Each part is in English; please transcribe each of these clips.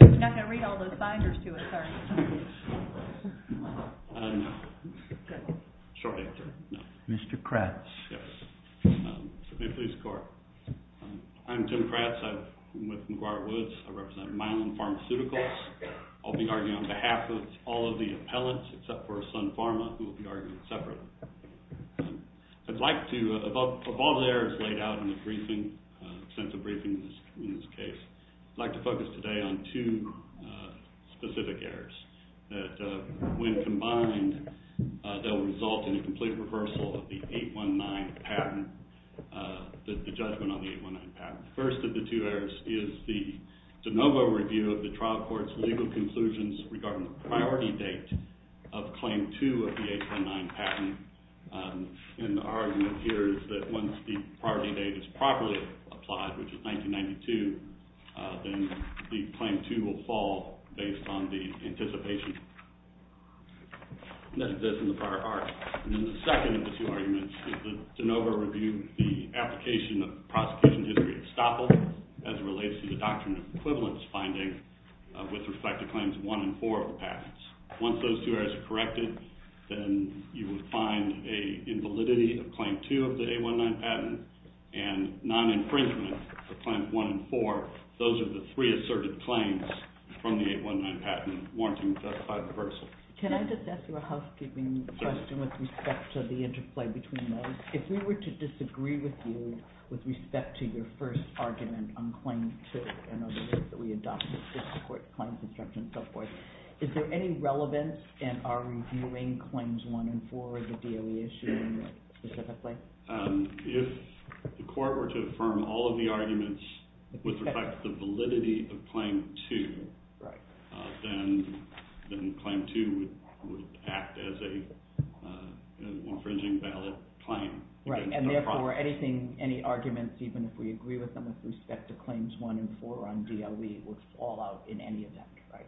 You're not going to read all those binders to us, are you? No. Okay. Short answer. No. Mr. Kratz. Yes. May it please the court. I'm Tim Kratz. I'm with McGuire Woods. I represent Milam Pharmaceuticals. I'll be arguing on behalf of all of the appellants, except for I'd like to, of all the errors laid out in the briefing, sent to briefings in this case, I'd like to focus today on two specific errors that, when combined, that will result in a complete reversal of the 819 patent, the judgment on the 819 patent. The first of the two errors is the de novo review of the trial court's legal conclusions regarding the priority date of Claim 2 of the 819 patent. And the argument here is that once the priority date is properly applied, which is 1992, then the Claim 2 will fall based on the anticipation that exists in the prior argument. And then the second of the two arguments is the de novo review of the application of the prosecution history of estoppel as it relates to the doctrine of equivalence finding with respect to Claims 1 and 4 of the patents. Once those two errors are corrected, then you will find an invalidity of Claim 2 of the 819 patent and non-infringement of Claims 1 and 4. Those are the three asserted claims from the 819 patent warranting a justified reversal. Can I just ask you a housekeeping question with respect to the interplay between those? If we were to disagree with you with respect to your first argument on Claim 2 and on the list that we adopted to support claims construction and so forth, is there any relevance in our reviewing Claims 1 and 4 of the DOE issue specifically? If the court were to affirm all of the arguments with respect to the validity of Claim 2, then Claim 2 would act as an infringing ballot claim. And therefore, any arguments, even if we agree with them with respect to Claims 1 and 4 on DOE, would fall out in any event, right?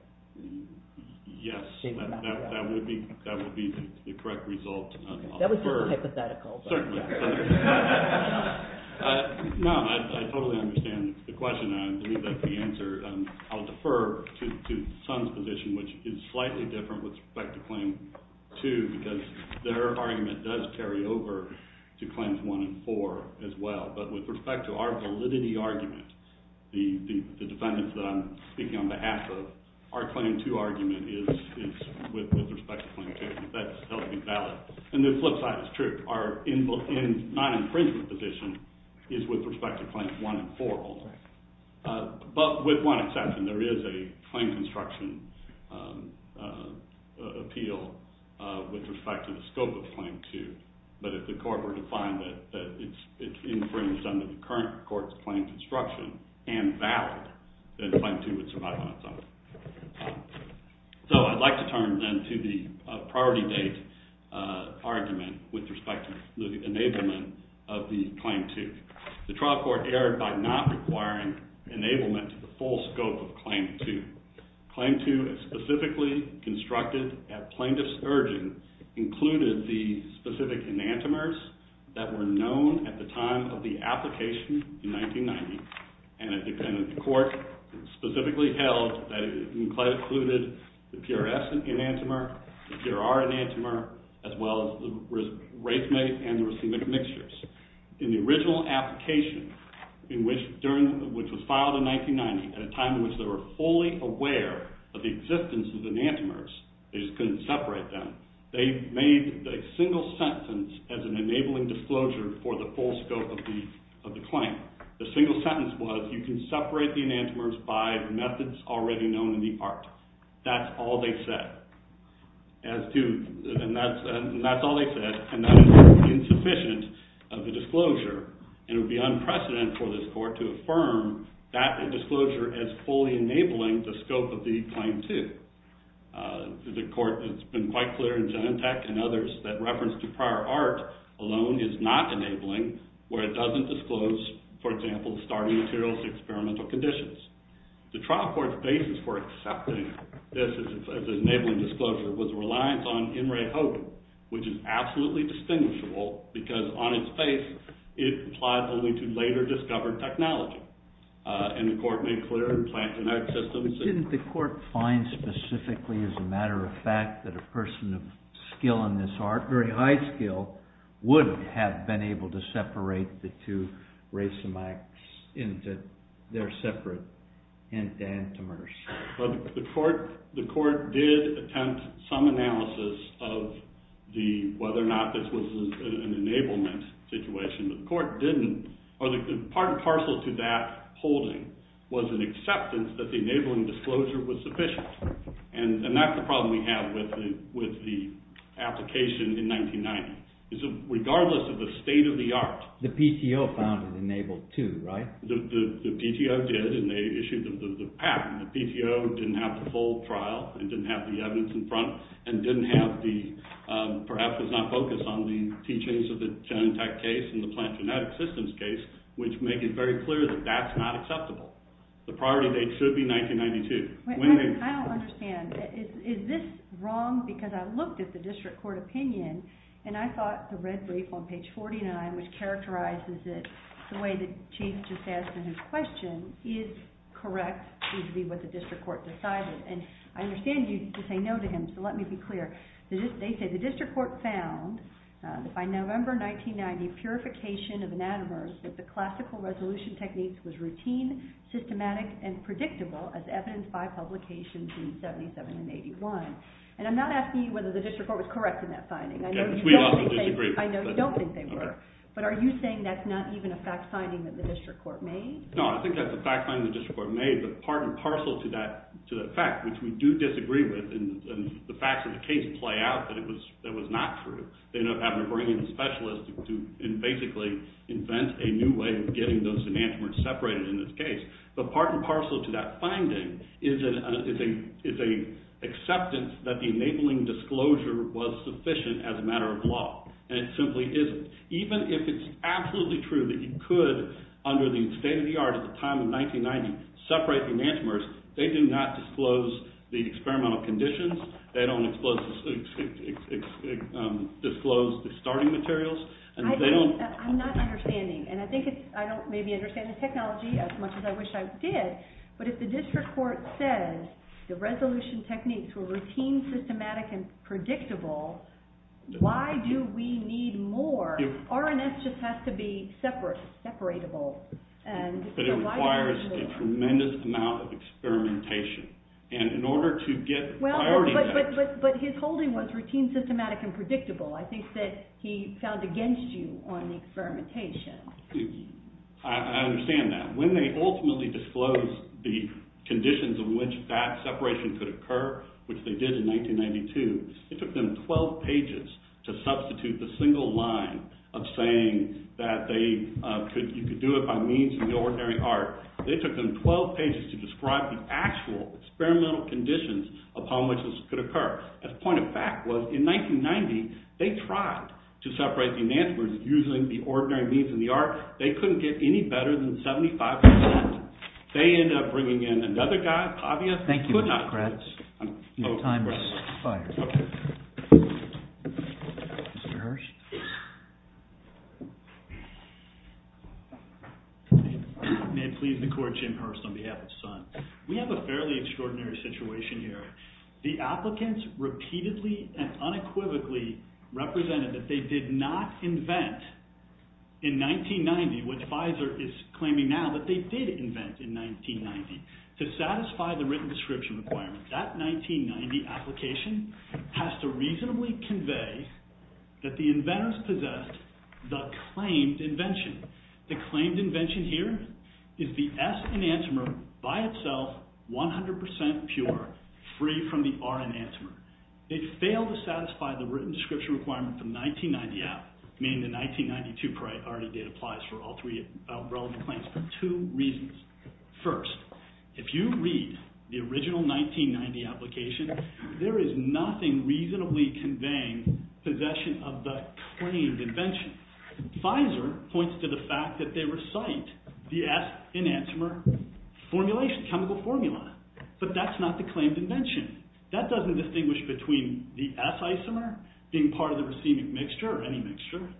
Yes, that would be the correct result. That was hypothetical. Certainly. No, I totally understand the question, and I believe that's the answer. I'll defer to Sun's position, which is slightly different with respect to Claim 2, because their argument does carry over to Claims 1 and 4 as well. But with respect to our validity argument, the defendants that I'm speaking on behalf of, our Claim 2 argument is with respect to Claim 2. That's held to be valid. And the flip side is true. Our non-infringement position is with respect to Claims 1 and 4 only. But with one exception, there is a claim construction appeal with respect to the scope of Claim 2. But if the court were to find that it's infringed under the current court's claim construction and valid, then Claim 2 would survive on its own. So I'd like to turn then to the priority date argument with respect to the enablement of the Claim 2. The trial court erred by not requiring enablement to the full scope of Claim 2. Claim 2 is specifically constructed at plaintiff's urging, included the specific enantiomers that were known at the time of the application in 1990, and the court specifically held that it included the PRS enantiomer, the PRR enantiomer, as well as the racemate and the racemic mixtures. In the original application, which was filed in 1990 at a time in which they were fully aware of the existence of enantiomers, they just couldn't separate them, they made a single sentence as an enabling disclosure for the full scope of the claim. The single sentence was, you can separate the enantiomers by the methods already known in the art. That's all they said. And that's all they said, and that is insufficient of the disclosure, and it would be unprecedented for this court to affirm that disclosure as fully enabling the scope of the Claim 2. The court has been quite clear in Genentech and others that reference to prior art alone is not enabling, where it doesn't disclose, for example, the starting materials and experimental conditions. The trial court's basis for accepting this as enabling disclosure was reliance on in-ray hoping, which is absolutely distinguishable, because on its face, it applied only to later-discovered technology. And the court made clear plant genetic systems. But didn't the court find specifically, as a matter of fact, that a person of skill in this art, very high skill, would have been able to separate the two racemacs into their separate enantiomers? The court did attempt some analysis of whether or not this was an enablement situation. The court didn't. Part and parcel to that holding was an acceptance that the enabling disclosure was sufficient. And that's the problem we have with the application in 1990. Regardless of the state of the art— The PTO found it enabled, too, right? The PTO did, and they issued the patent. The PTO didn't have the full trial and didn't have the evidence in front and didn't have the—perhaps was not focused on the teachings of the Genentech case and the plant genetic systems case, which make it very clear that that's not acceptable. The priority date should be 1992. I don't understand. Is this wrong? Because I looked at the district court opinion, and I thought the red brief on page 49, which characterizes it the way that Chief just asked in his question, is correct. It would be what the district court decided. And I understand you say no to him, so let me be clear. They say the district court found by November 1990 purification of anatomers that the classical resolution techniques was routine, systematic, and predictable as evidenced by publications in 77 and 81. And I'm not asking you whether the district court was correct in that finding. I know you don't think they were. But are you saying that's not even a fact finding that the district court made? No, I think that's a fact finding the district court made, but part and parcel to that fact, which we do disagree with and the facts of the case play out that it was not true. They ended up having to bring in a specialist to basically invent a new way of getting those enantiomers separated in this case. But part and parcel to that finding is an acceptance that the enabling disclosure was sufficient as a matter of law. And it simply isn't. Even if it's absolutely true that you could, under the state of the art at the time of 1990, separate enantiomers, they do not disclose the experimental conditions. They don't disclose the starting materials. I'm not understanding. And I don't maybe understand the technology as much as I wish I did. But if the district court says the resolution techniques were routine, systematic, and predictable, why do we need more? R&S just has to be separate, separatable. But it requires a tremendous amount of experimentation. And in order to get priority action. But his holding was routine, systematic, and predictable. I think that he found against you on the experimentation. I understand that. When they ultimately disclosed the conditions in which that separation could occur, which they did in 1992, it took them 12 pages to substitute the single line of saying that you could do it by means of the ordinary art. It took them 12 pages to describe the actual experimental conditions upon which this could occur. The point of fact was in 1990, they tried to separate the enantiomers using the ordinary means in the art. They couldn't get any better than 75%. Thank you, Mr. Kratz. Your time has expired. Mr. Hurst? May it please the court, Jim Hurst on behalf of SUN. We have a fairly extraordinary situation here. The applicants repeatedly and unequivocally represented that they did not invent in 1990 what Pfizer is claiming now that they did invent in 1990. To satisfy the written description requirement, that 1990 application has to reasonably convey that the inventors possessed the claimed invention. The claimed invention here is the S enantiomer by itself, 100% pure, free from the R enantiomer. They failed to satisfy the written description requirement from 1990 out, meaning the 1992 priority date applies for all three relevant claims for two reasons. First, if you read the original 1990 application, there is nothing reasonably conveying possession of the claimed invention. Pfizer points to the fact that they recite the S enantiomer chemical formula, but that's not the claimed invention. That doesn't distinguish between the S enantiomer being part of the racemic mixture, or any mixture,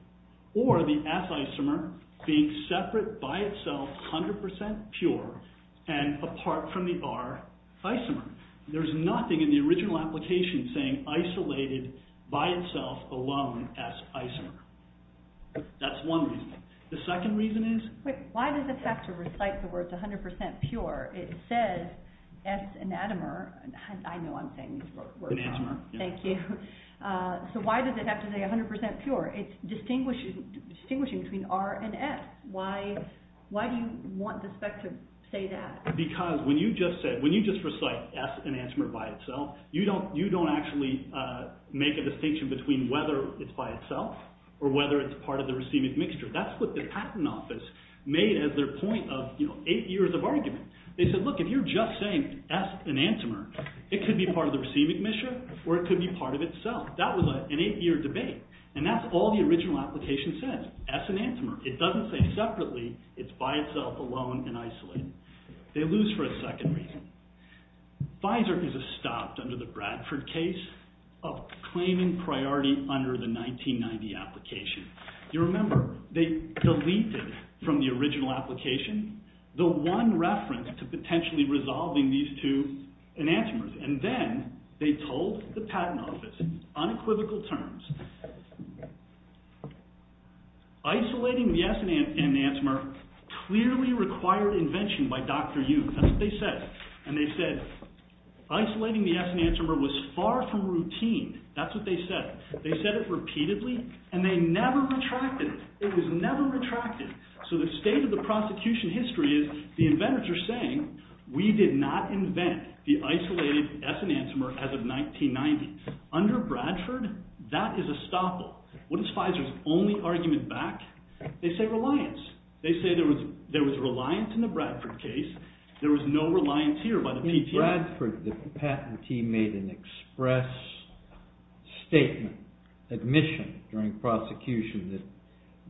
or the S enantiomer being separate by itself, 100% pure, and apart from the R enantiomer. There's nothing in the original application saying isolated by itself, alone, S enantiomer. That's one reason. The second reason is... Wait, why does it have to recite the words 100% pure? It says S enantiomer. I know I'm saying these words wrong. Enantiomer. Thank you. So why does it have to say 100% pure? It's distinguishing between R and S. Why do you want the spec to say that? Because when you just recite S enantiomer by itself, you don't actually make a distinction between whether it's by itself, or whether it's part of the racemic mixture. That's what the Patent Office made as their point of eight years of argument. They said, look, if you're just saying S enantiomer, it could be part of the racemic mixture, or it could be part of itself. That was an eight-year debate. And that's all the original application says, S enantiomer. It doesn't say separately, it's by itself, alone, and isolated. They lose for a second reason. Pfizer is stopped under the Bradford case of claiming priority under the 1990 application. You remember, they deleted from the original application the one reference to potentially resolving these two enantiomers. And then they told the Patent Office, unequivocal terms, isolating the S enantiomer clearly required invention by Dr. Yoon. That's what they said. And they said, isolating the S enantiomer was far from routine. That's what they said. They said it repeatedly, and they never retracted it. It was never retracted. So the state of the prosecution history is, the inventors are saying, we did not invent the isolated S enantiomer as of 1990. Under Bradford, that is a stopple. What is Pfizer's only argument back? They say reliance. They say there was reliance in the Bradford case. There was no reliance here by the PTA. In Bradford, the patentee made an express statement, admission during prosecution, that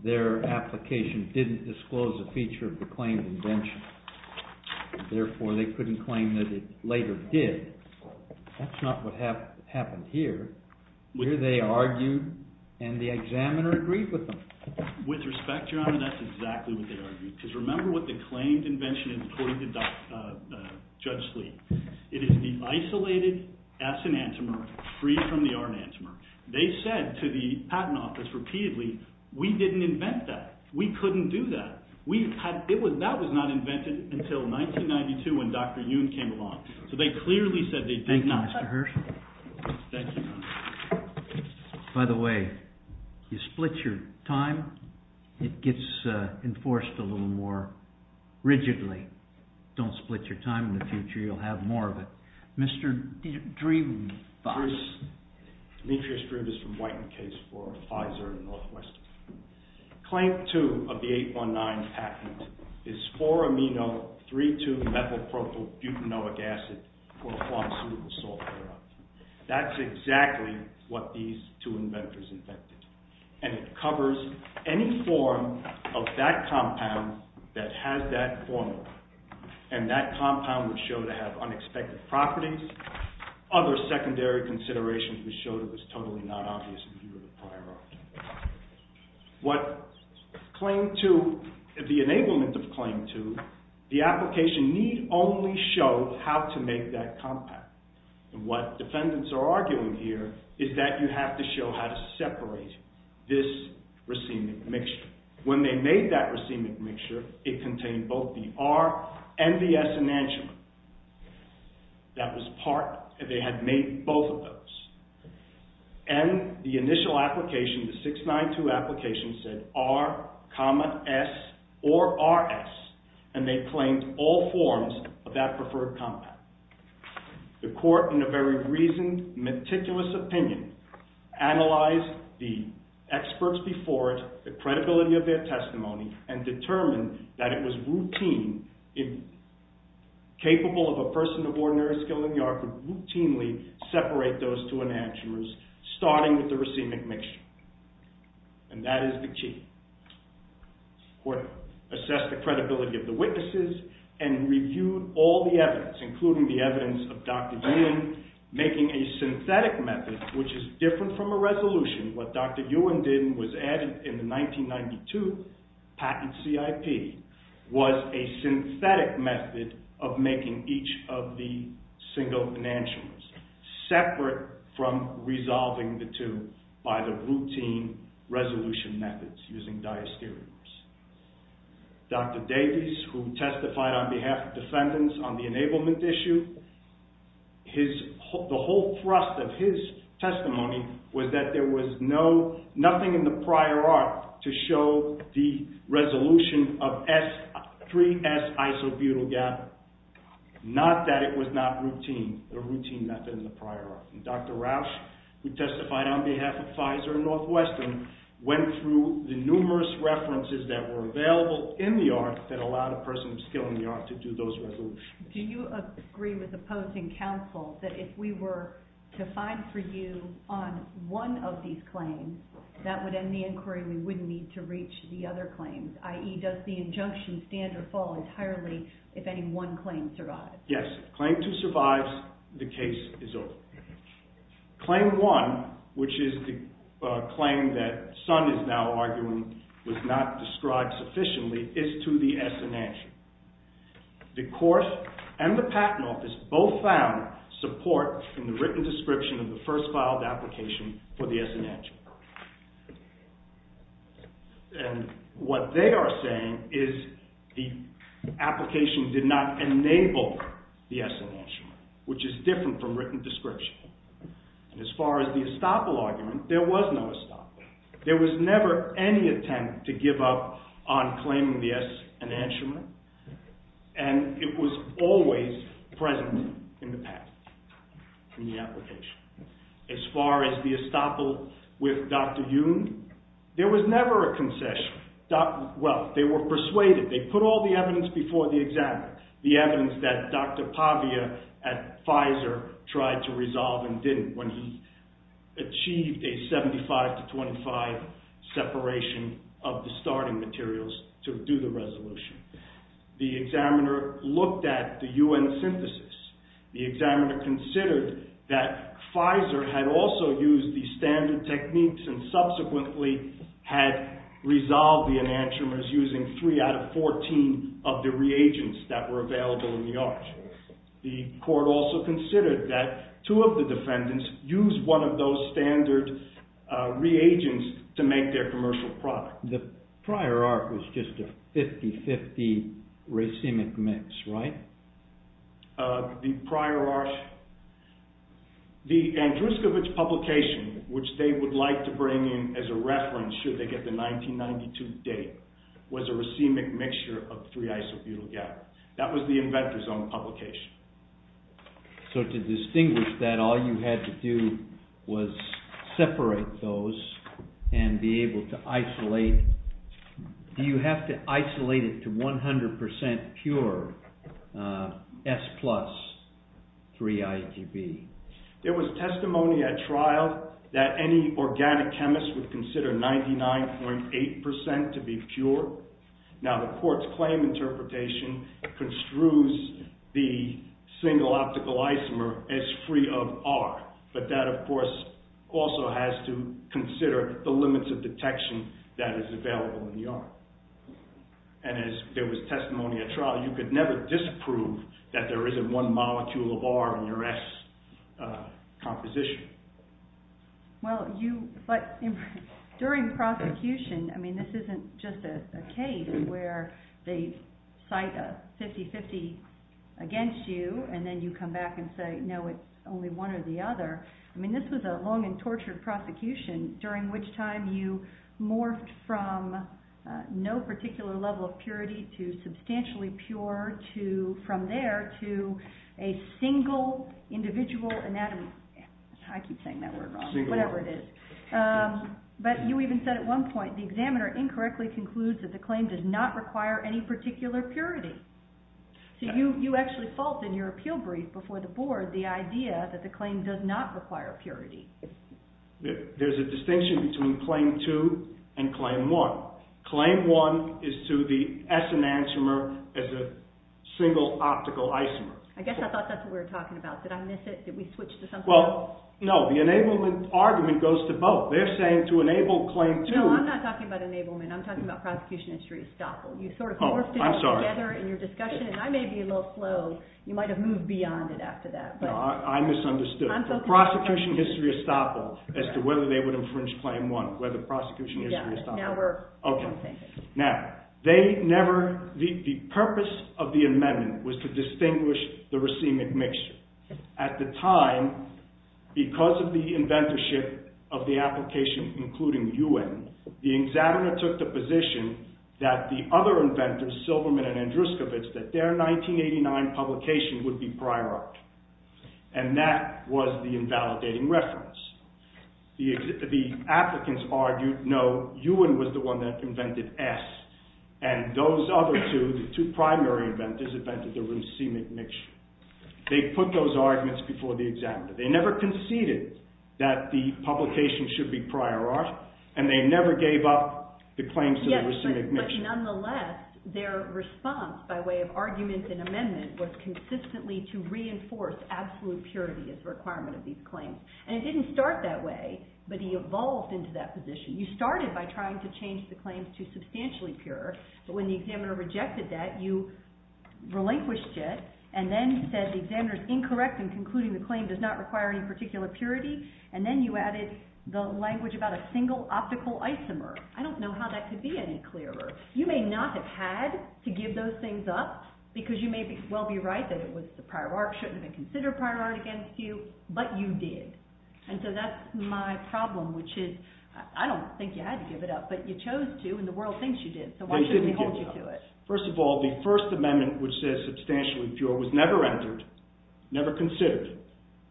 their application didn't disclose a feature of the claimed invention. Therefore, they couldn't claim that it later did. That's not what happened here. Here they argued, and the examiner agreed with them. With respect, Your Honor, that's exactly what they argued. Because remember what the claimed invention is, according to Judge Sleet. It is the isolated S enantiomer free from the R enantiomer. They said to the patent office repeatedly, we didn't invent that. We couldn't do that. That was not invented until 1992 when Dr. Yoon came along. So they clearly said they did not. Thank you, Your Honor. By the way, you split your time. It gets enforced a little more rigidly. Don't split your time in the future. You'll have more of it. Mr. Dreeb. Dreeb is from White and Case for Pfizer and Northwestern. Claim two of the 819 patent is 4-amino-3-2-methylpropylbutanoic acid for pharmaceutical software. That's exactly what these two inventors invented. And it covers any form of that compound that has that formula. And that compound would show to have unexpected properties. Other secondary considerations would show it was totally not obvious in view of the prior argument. What claim two, the enablement of claim two, the application need only show how to make that compound. And what defendants are arguing here is that you have to show how to separate this racemic mixture. When they made that racemic mixture, it contained both the R and the S enantiomer. That was part, they had made both of those. And the initial application, the 692 application, said R comma S or RS. And they claimed all forms of that preferred compound. The court, in a very reasoned, meticulous opinion, analyzed the experts before it, the credibility of their testimony, and determined that it was routine. If capable of a person of ordinary skill in the art, would routinely separate those two enantiomers starting with the racemic mixture. And that is the key. The court assessed the credibility of the witnesses and reviewed all the evidence, including the evidence of Dr. Ewan making a synthetic method, which is different from a resolution. What Dr. Ewan did and was added in the 1992 patent CIP was a synthetic method of making each of the single enantiomers separate from resolving the two by the routine resolution methods using diastereomers. Dr. Davies, who testified on behalf of defendants on the enablement issue, the whole thrust of his testimony was that there was nothing in the prior art to show the resolution of 3S isobutyl gather. Not that it was not routine, a routine method in the prior art. Dr. Rausch, who testified on behalf of Pfizer and Northwestern, went through the numerous references that were available in the art that allowed a person of skill in the art to do those resolutions. Do you agree with opposing counsel that if we were to find for you on one of these claims, that would end the inquiry and we wouldn't need to reach the other claims? i.e., does the injunction stand or fall entirely if any one claim survives? Yes, claim 2 survives, the case is over. Claim 1, which is the claim that Sun is now arguing was not described sufficiently, is to the S enantiom. The court and the patent office both found support in the written description of the first filed application for the S enantiom. And what they are saying is the application did not enable the S enantiom, which is different from written description. As far as the estoppel argument, there was no estoppel. There was never any attempt to give up on claiming the S enantiom, and it was always present in the patent, in the application. As far as the estoppel with Dr. Jung, there was never a concession. Well, they were persuaded. They put all the evidence before the examiner, the evidence that Dr. Pavia at Pfizer tried to resolve and didn't when he achieved a 75 to 25 separation of the starting materials to do the resolution. The examiner looked at the U.N. synthesis. The examiner considered that Pfizer had also used the standard techniques and subsequently had resolved the enantiomers using three out of 14 of the reagents that were available in the art. The court also considered that two of the defendants used one of those standard reagents to make their commercial product. The prior art was just a 50-50 racemic mix, right? The prior art... The Andruskovich publication, which they would like to bring in as a reference should they get the 1992 data, was a racemic mixture of three isobutyl gap. That was the inventor's own publication. So to distinguish that, all you had to do was separate those and be able to isolate... Do you have to isolate it to 100% pure S plus 3-IGB? There was testimony at trial that any organic chemist would consider 99.8% to be pure. Now the court's claim interpretation construes the single optical isomer as free of R, but that of course also has to consider the limits of detection that is available in the art. As there was testimony at trial, you could never disprove that there isn't one molecule of R in your S composition. During prosecution, this isn't just a case where they cite a 50-50 against you and then you come back and say, no, it's only one or the other. I mean, this was a long and tortured prosecution, during which time you morphed from no particular level of purity to substantially pure, from there to a single individual anatomy... I keep saying that word wrong, whatever it is. But you even said at one point, the examiner incorrectly concludes that the claim does not require any particular purity. So you actually fault in your appeal brief before the board the idea that the claim does not require purity. There's a distinction between claim 2 and claim 1. Claim 1 is to the S enantiomer as a single optical isomer. I guess I thought that's what we were talking about. Did I miss it? Did we switch to something else? Well, no. The enablement argument goes to both. They're saying to enable claim 2... No, I'm not talking about enablement. I'm talking about prosecution history. Stop. You sort of morphed it together in your discussion, and I may be a little slow. You might have moved beyond it after that. I misunderstood. I'm talking about prosecution history. Prosecution history estoppel as to whether they would infringe claim 1, whether prosecution history estoppel. Yeah, now we're on the same page. Now, they never... The purpose of the amendment was to distinguish the racemic mixture. At the time, because of the inventorship of the application, including UN, the examiner took the position that the other inventors, Silverman and Andruskowicz, that their 1989 publication would be prior art, and that was the invalidating reference. The applicants argued, no, UN was the one that invented S, and those other two, the two primary inventors, invented the racemic mixture. They put those arguments before the examiner. They never conceded that the publication should be prior art, and they never gave up the claims to the racemic mixture. Yes, but nonetheless, their response by way of argument and amendment was consistently to reinforce absolute purity as a requirement of these claims. And it didn't start that way, but he evolved into that position. You started by trying to change the claims to substantially pure, but when the examiner rejected that, you relinquished it, and then said the examiner's incorrect in concluding the claim does not require any particular purity, and then you added the language about a single optical isomer. I don't know how that could be any clearer. You may not have had to give those things up, because you may well be right that the prior art shouldn't have been considered prior art against you, but you did. And so that's my problem, which is, I don't think you had to give it up, but you chose to, and the world thinks you did, so why shouldn't they hold you to it? First of all, the First Amendment, which says substantially pure, was never entered, never considered.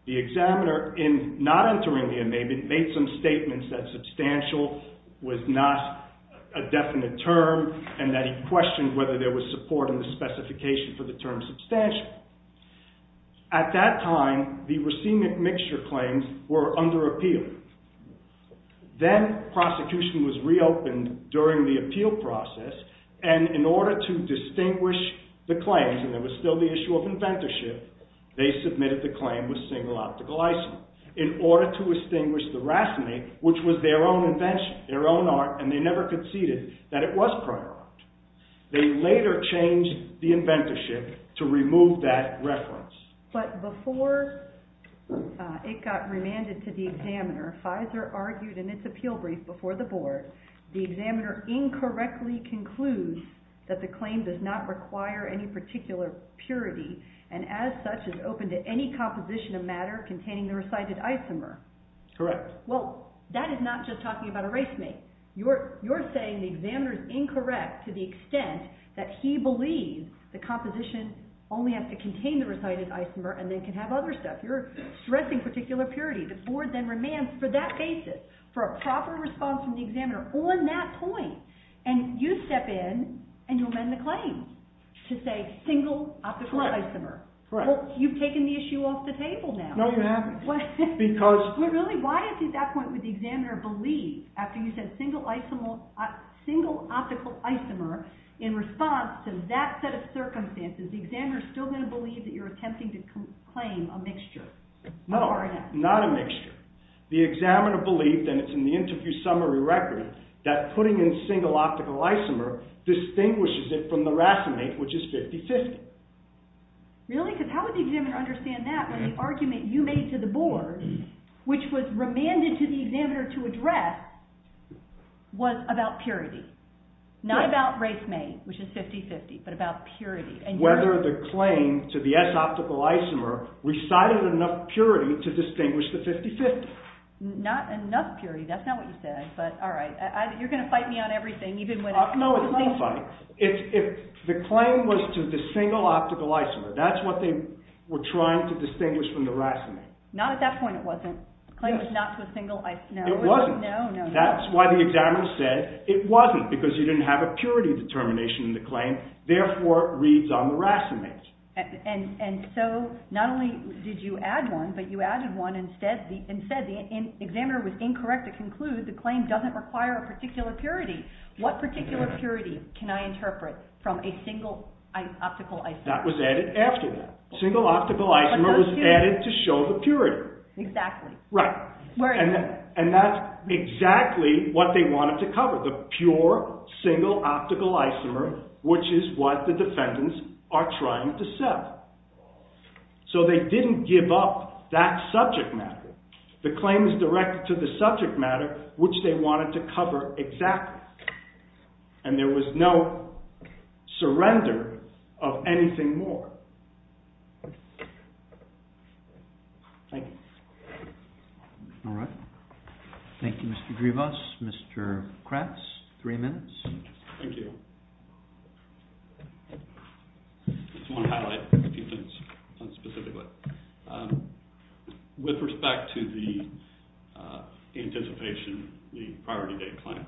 The examiner, in not entering the amendment, made some statements that substantial was not a definite term, and that he questioned whether there was support in the specification for the term substantial. At that time, the racemic mixture claims were under appeal. Then, prosecution was reopened during the appeal process, and in order to distinguish the claims, and there was still the issue of inventorship, they submitted the claim with single optical isomer. In order to distinguish the racemic, which was their own invention, their own art, and they never conceded that it was prior art, they later changed the inventorship to remove that reference. But before it got remanded to the examiner, Pfizer argued in its appeal brief before the board, the examiner incorrectly concludes that the claim does not require any particular purity, and as such is open to any composition of matter containing the recited isomer. Correct. Well, that is not just talking about a racemic. You're saying the examiner is incorrect to the extent that he believes the composition only has to contain the recited isomer and then can have other stuff. You're stressing particular purity. The board then remands for that basis, for a proper response from the examiner on that point, and you step in and you amend the claim to say single optical isomer. Correct. Well, you've taken the issue off the table now. No, you haven't. Well, really, why at that point would the examiner believe, after you said single optical isomer in response to that set of circumstances, the examiner is still going to believe that you're attempting to claim a mixture? No, not a mixture. The examiner believed, and it's in the interview summary record, that putting in single optical isomer distinguishes it from the racemic, which is 50-50. Really? Because how would the examiner understand that when the argument you made to the board, which was remanded to the examiner to address, was about purity? Not about racemic, which is 50-50, but about purity. Whether the claim to the S optical isomer recited enough purity to distinguish the 50-50. Not enough purity, that's not what you said, but all right. You're going to fight me on everything. No, it's not a fight. If the claim was to the single optical isomer, that's what they were trying to distinguish from the racemic. Not at that point it wasn't. The claim was not to a single isomer. It wasn't. No, no, no. That's why the examiner said it wasn't, because you didn't have a purity determination in the claim, therefore it reads on the racemic. And so not only did you add one, but you added one and said the examiner was incorrect to conclude the claim doesn't require a particular purity. What particular purity can I interpret from a single optical isomer? That was added after that. Single optical isomer was added to show the purity. Exactly. Right. And that's exactly what they wanted to cover, the pure single optical isomer, which is what the defendants are trying to sell. So they didn't give up that subject matter. The claim is directed to the subject matter, which they wanted to cover exactly. And there was no surrender of anything more. Thank you. All right. Thank you, Mr. Drivas. Mr. Kratz, three minutes. Thank you. I just want to highlight a few things specifically. With respect to the anticipation, the priority date claim,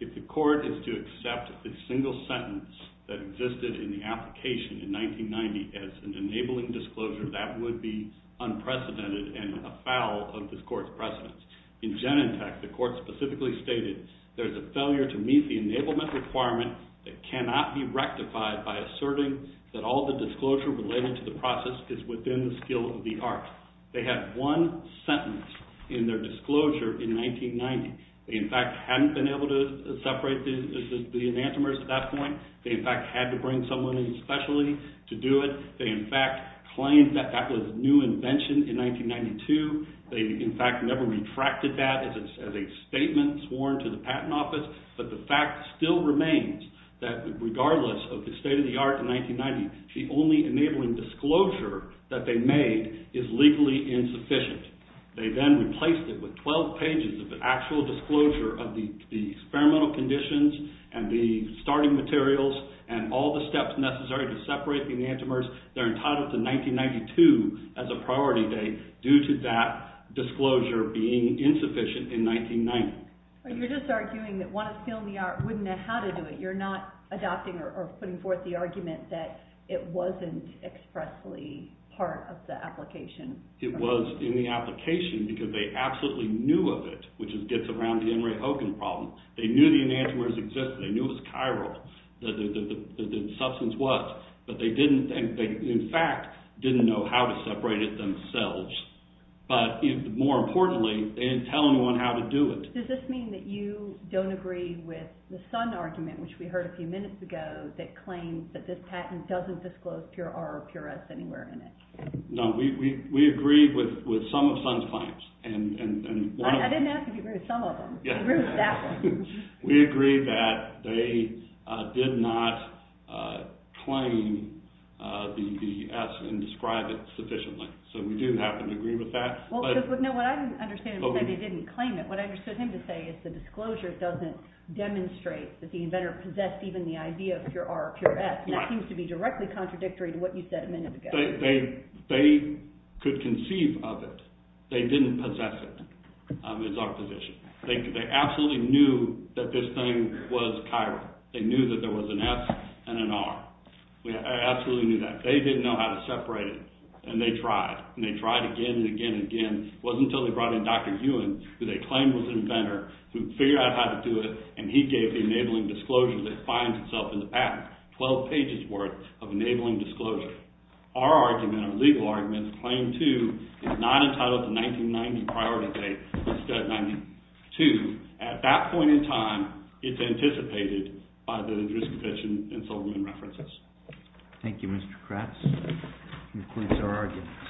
if the court is to accept a single sentence that existed in the application in 1990 as an enabling disclosure, that would be unprecedented and a foul of this court's precedence. In Genentech, the court specifically stated, there's a failure to meet the enablement requirement that cannot be rectified by asserting that all the disclosure related to the process is within the skill of the art. They had one sentence in their disclosure in 1990. They, in fact, hadn't been able to separate the enantiomers at that point. They, in fact, had to bring someone in specially to do it. They, in fact, claimed that that was new invention in 1992. They, in fact, never retracted that as a statement sworn to the patent office. But the fact still remains that regardless of the state of the art in 1990, the only enabling disclosure that they made is legally insufficient. They then replaced it with 12 pages of the actual disclosure of the experimental conditions and the starting materials and all the steps necessary to separate the enantiomers. They're entitled to 1992 as a priority date due to that disclosure being insufficient in 1990. You're just arguing that one of skill in the art wouldn't know how to do it. You're not adopting or putting forth the argument that it wasn't expressly part of the application. It was in the application because they absolutely knew of it, which gets around the Henry Hogan problem. They knew the enantiomers existed. They knew it was chiral, that the substance was. But they, in fact, didn't know how to separate it themselves. But more importantly, they didn't tell anyone how to do it. Does this mean that you don't agree with the Sun argument, which we heard a few minutes ago, that claims that this patent doesn't disclose pure R or pure S anywhere in it? No, we agree with some of Sun's claims. I didn't ask if you agree with some of them. I agree with that one. We agree that they did not claim the S and describe it sufficiently. So we do happen to agree with that. Well, no, what I didn't understand was that they didn't claim it. What I understood him to say is the disclosure doesn't demonstrate that the inventor possessed even the idea of pure R or pure S. And that seems to be directly contradictory to what you said a minute ago. They could conceive of it. They didn't possess it, is our position. They absolutely knew that this thing was chiral. They knew that there was an S and an R. They absolutely knew that. They didn't know how to separate it, and they tried. And they tried again and again and again. It wasn't until they brought in Dr. Ewan, who they claimed was an inventor, who figured out how to do it, and he gave the enabling disclosure that finds itself in the patent, 12 pages worth of enabling disclosure. But our argument, our legal argument, claim two is not entitled to 1990 priority date, instead of 1992. At that point in time, it's anticipated by the jurisdiction and Silverman references. Thank you, Mr. Kratz. That concludes our argument.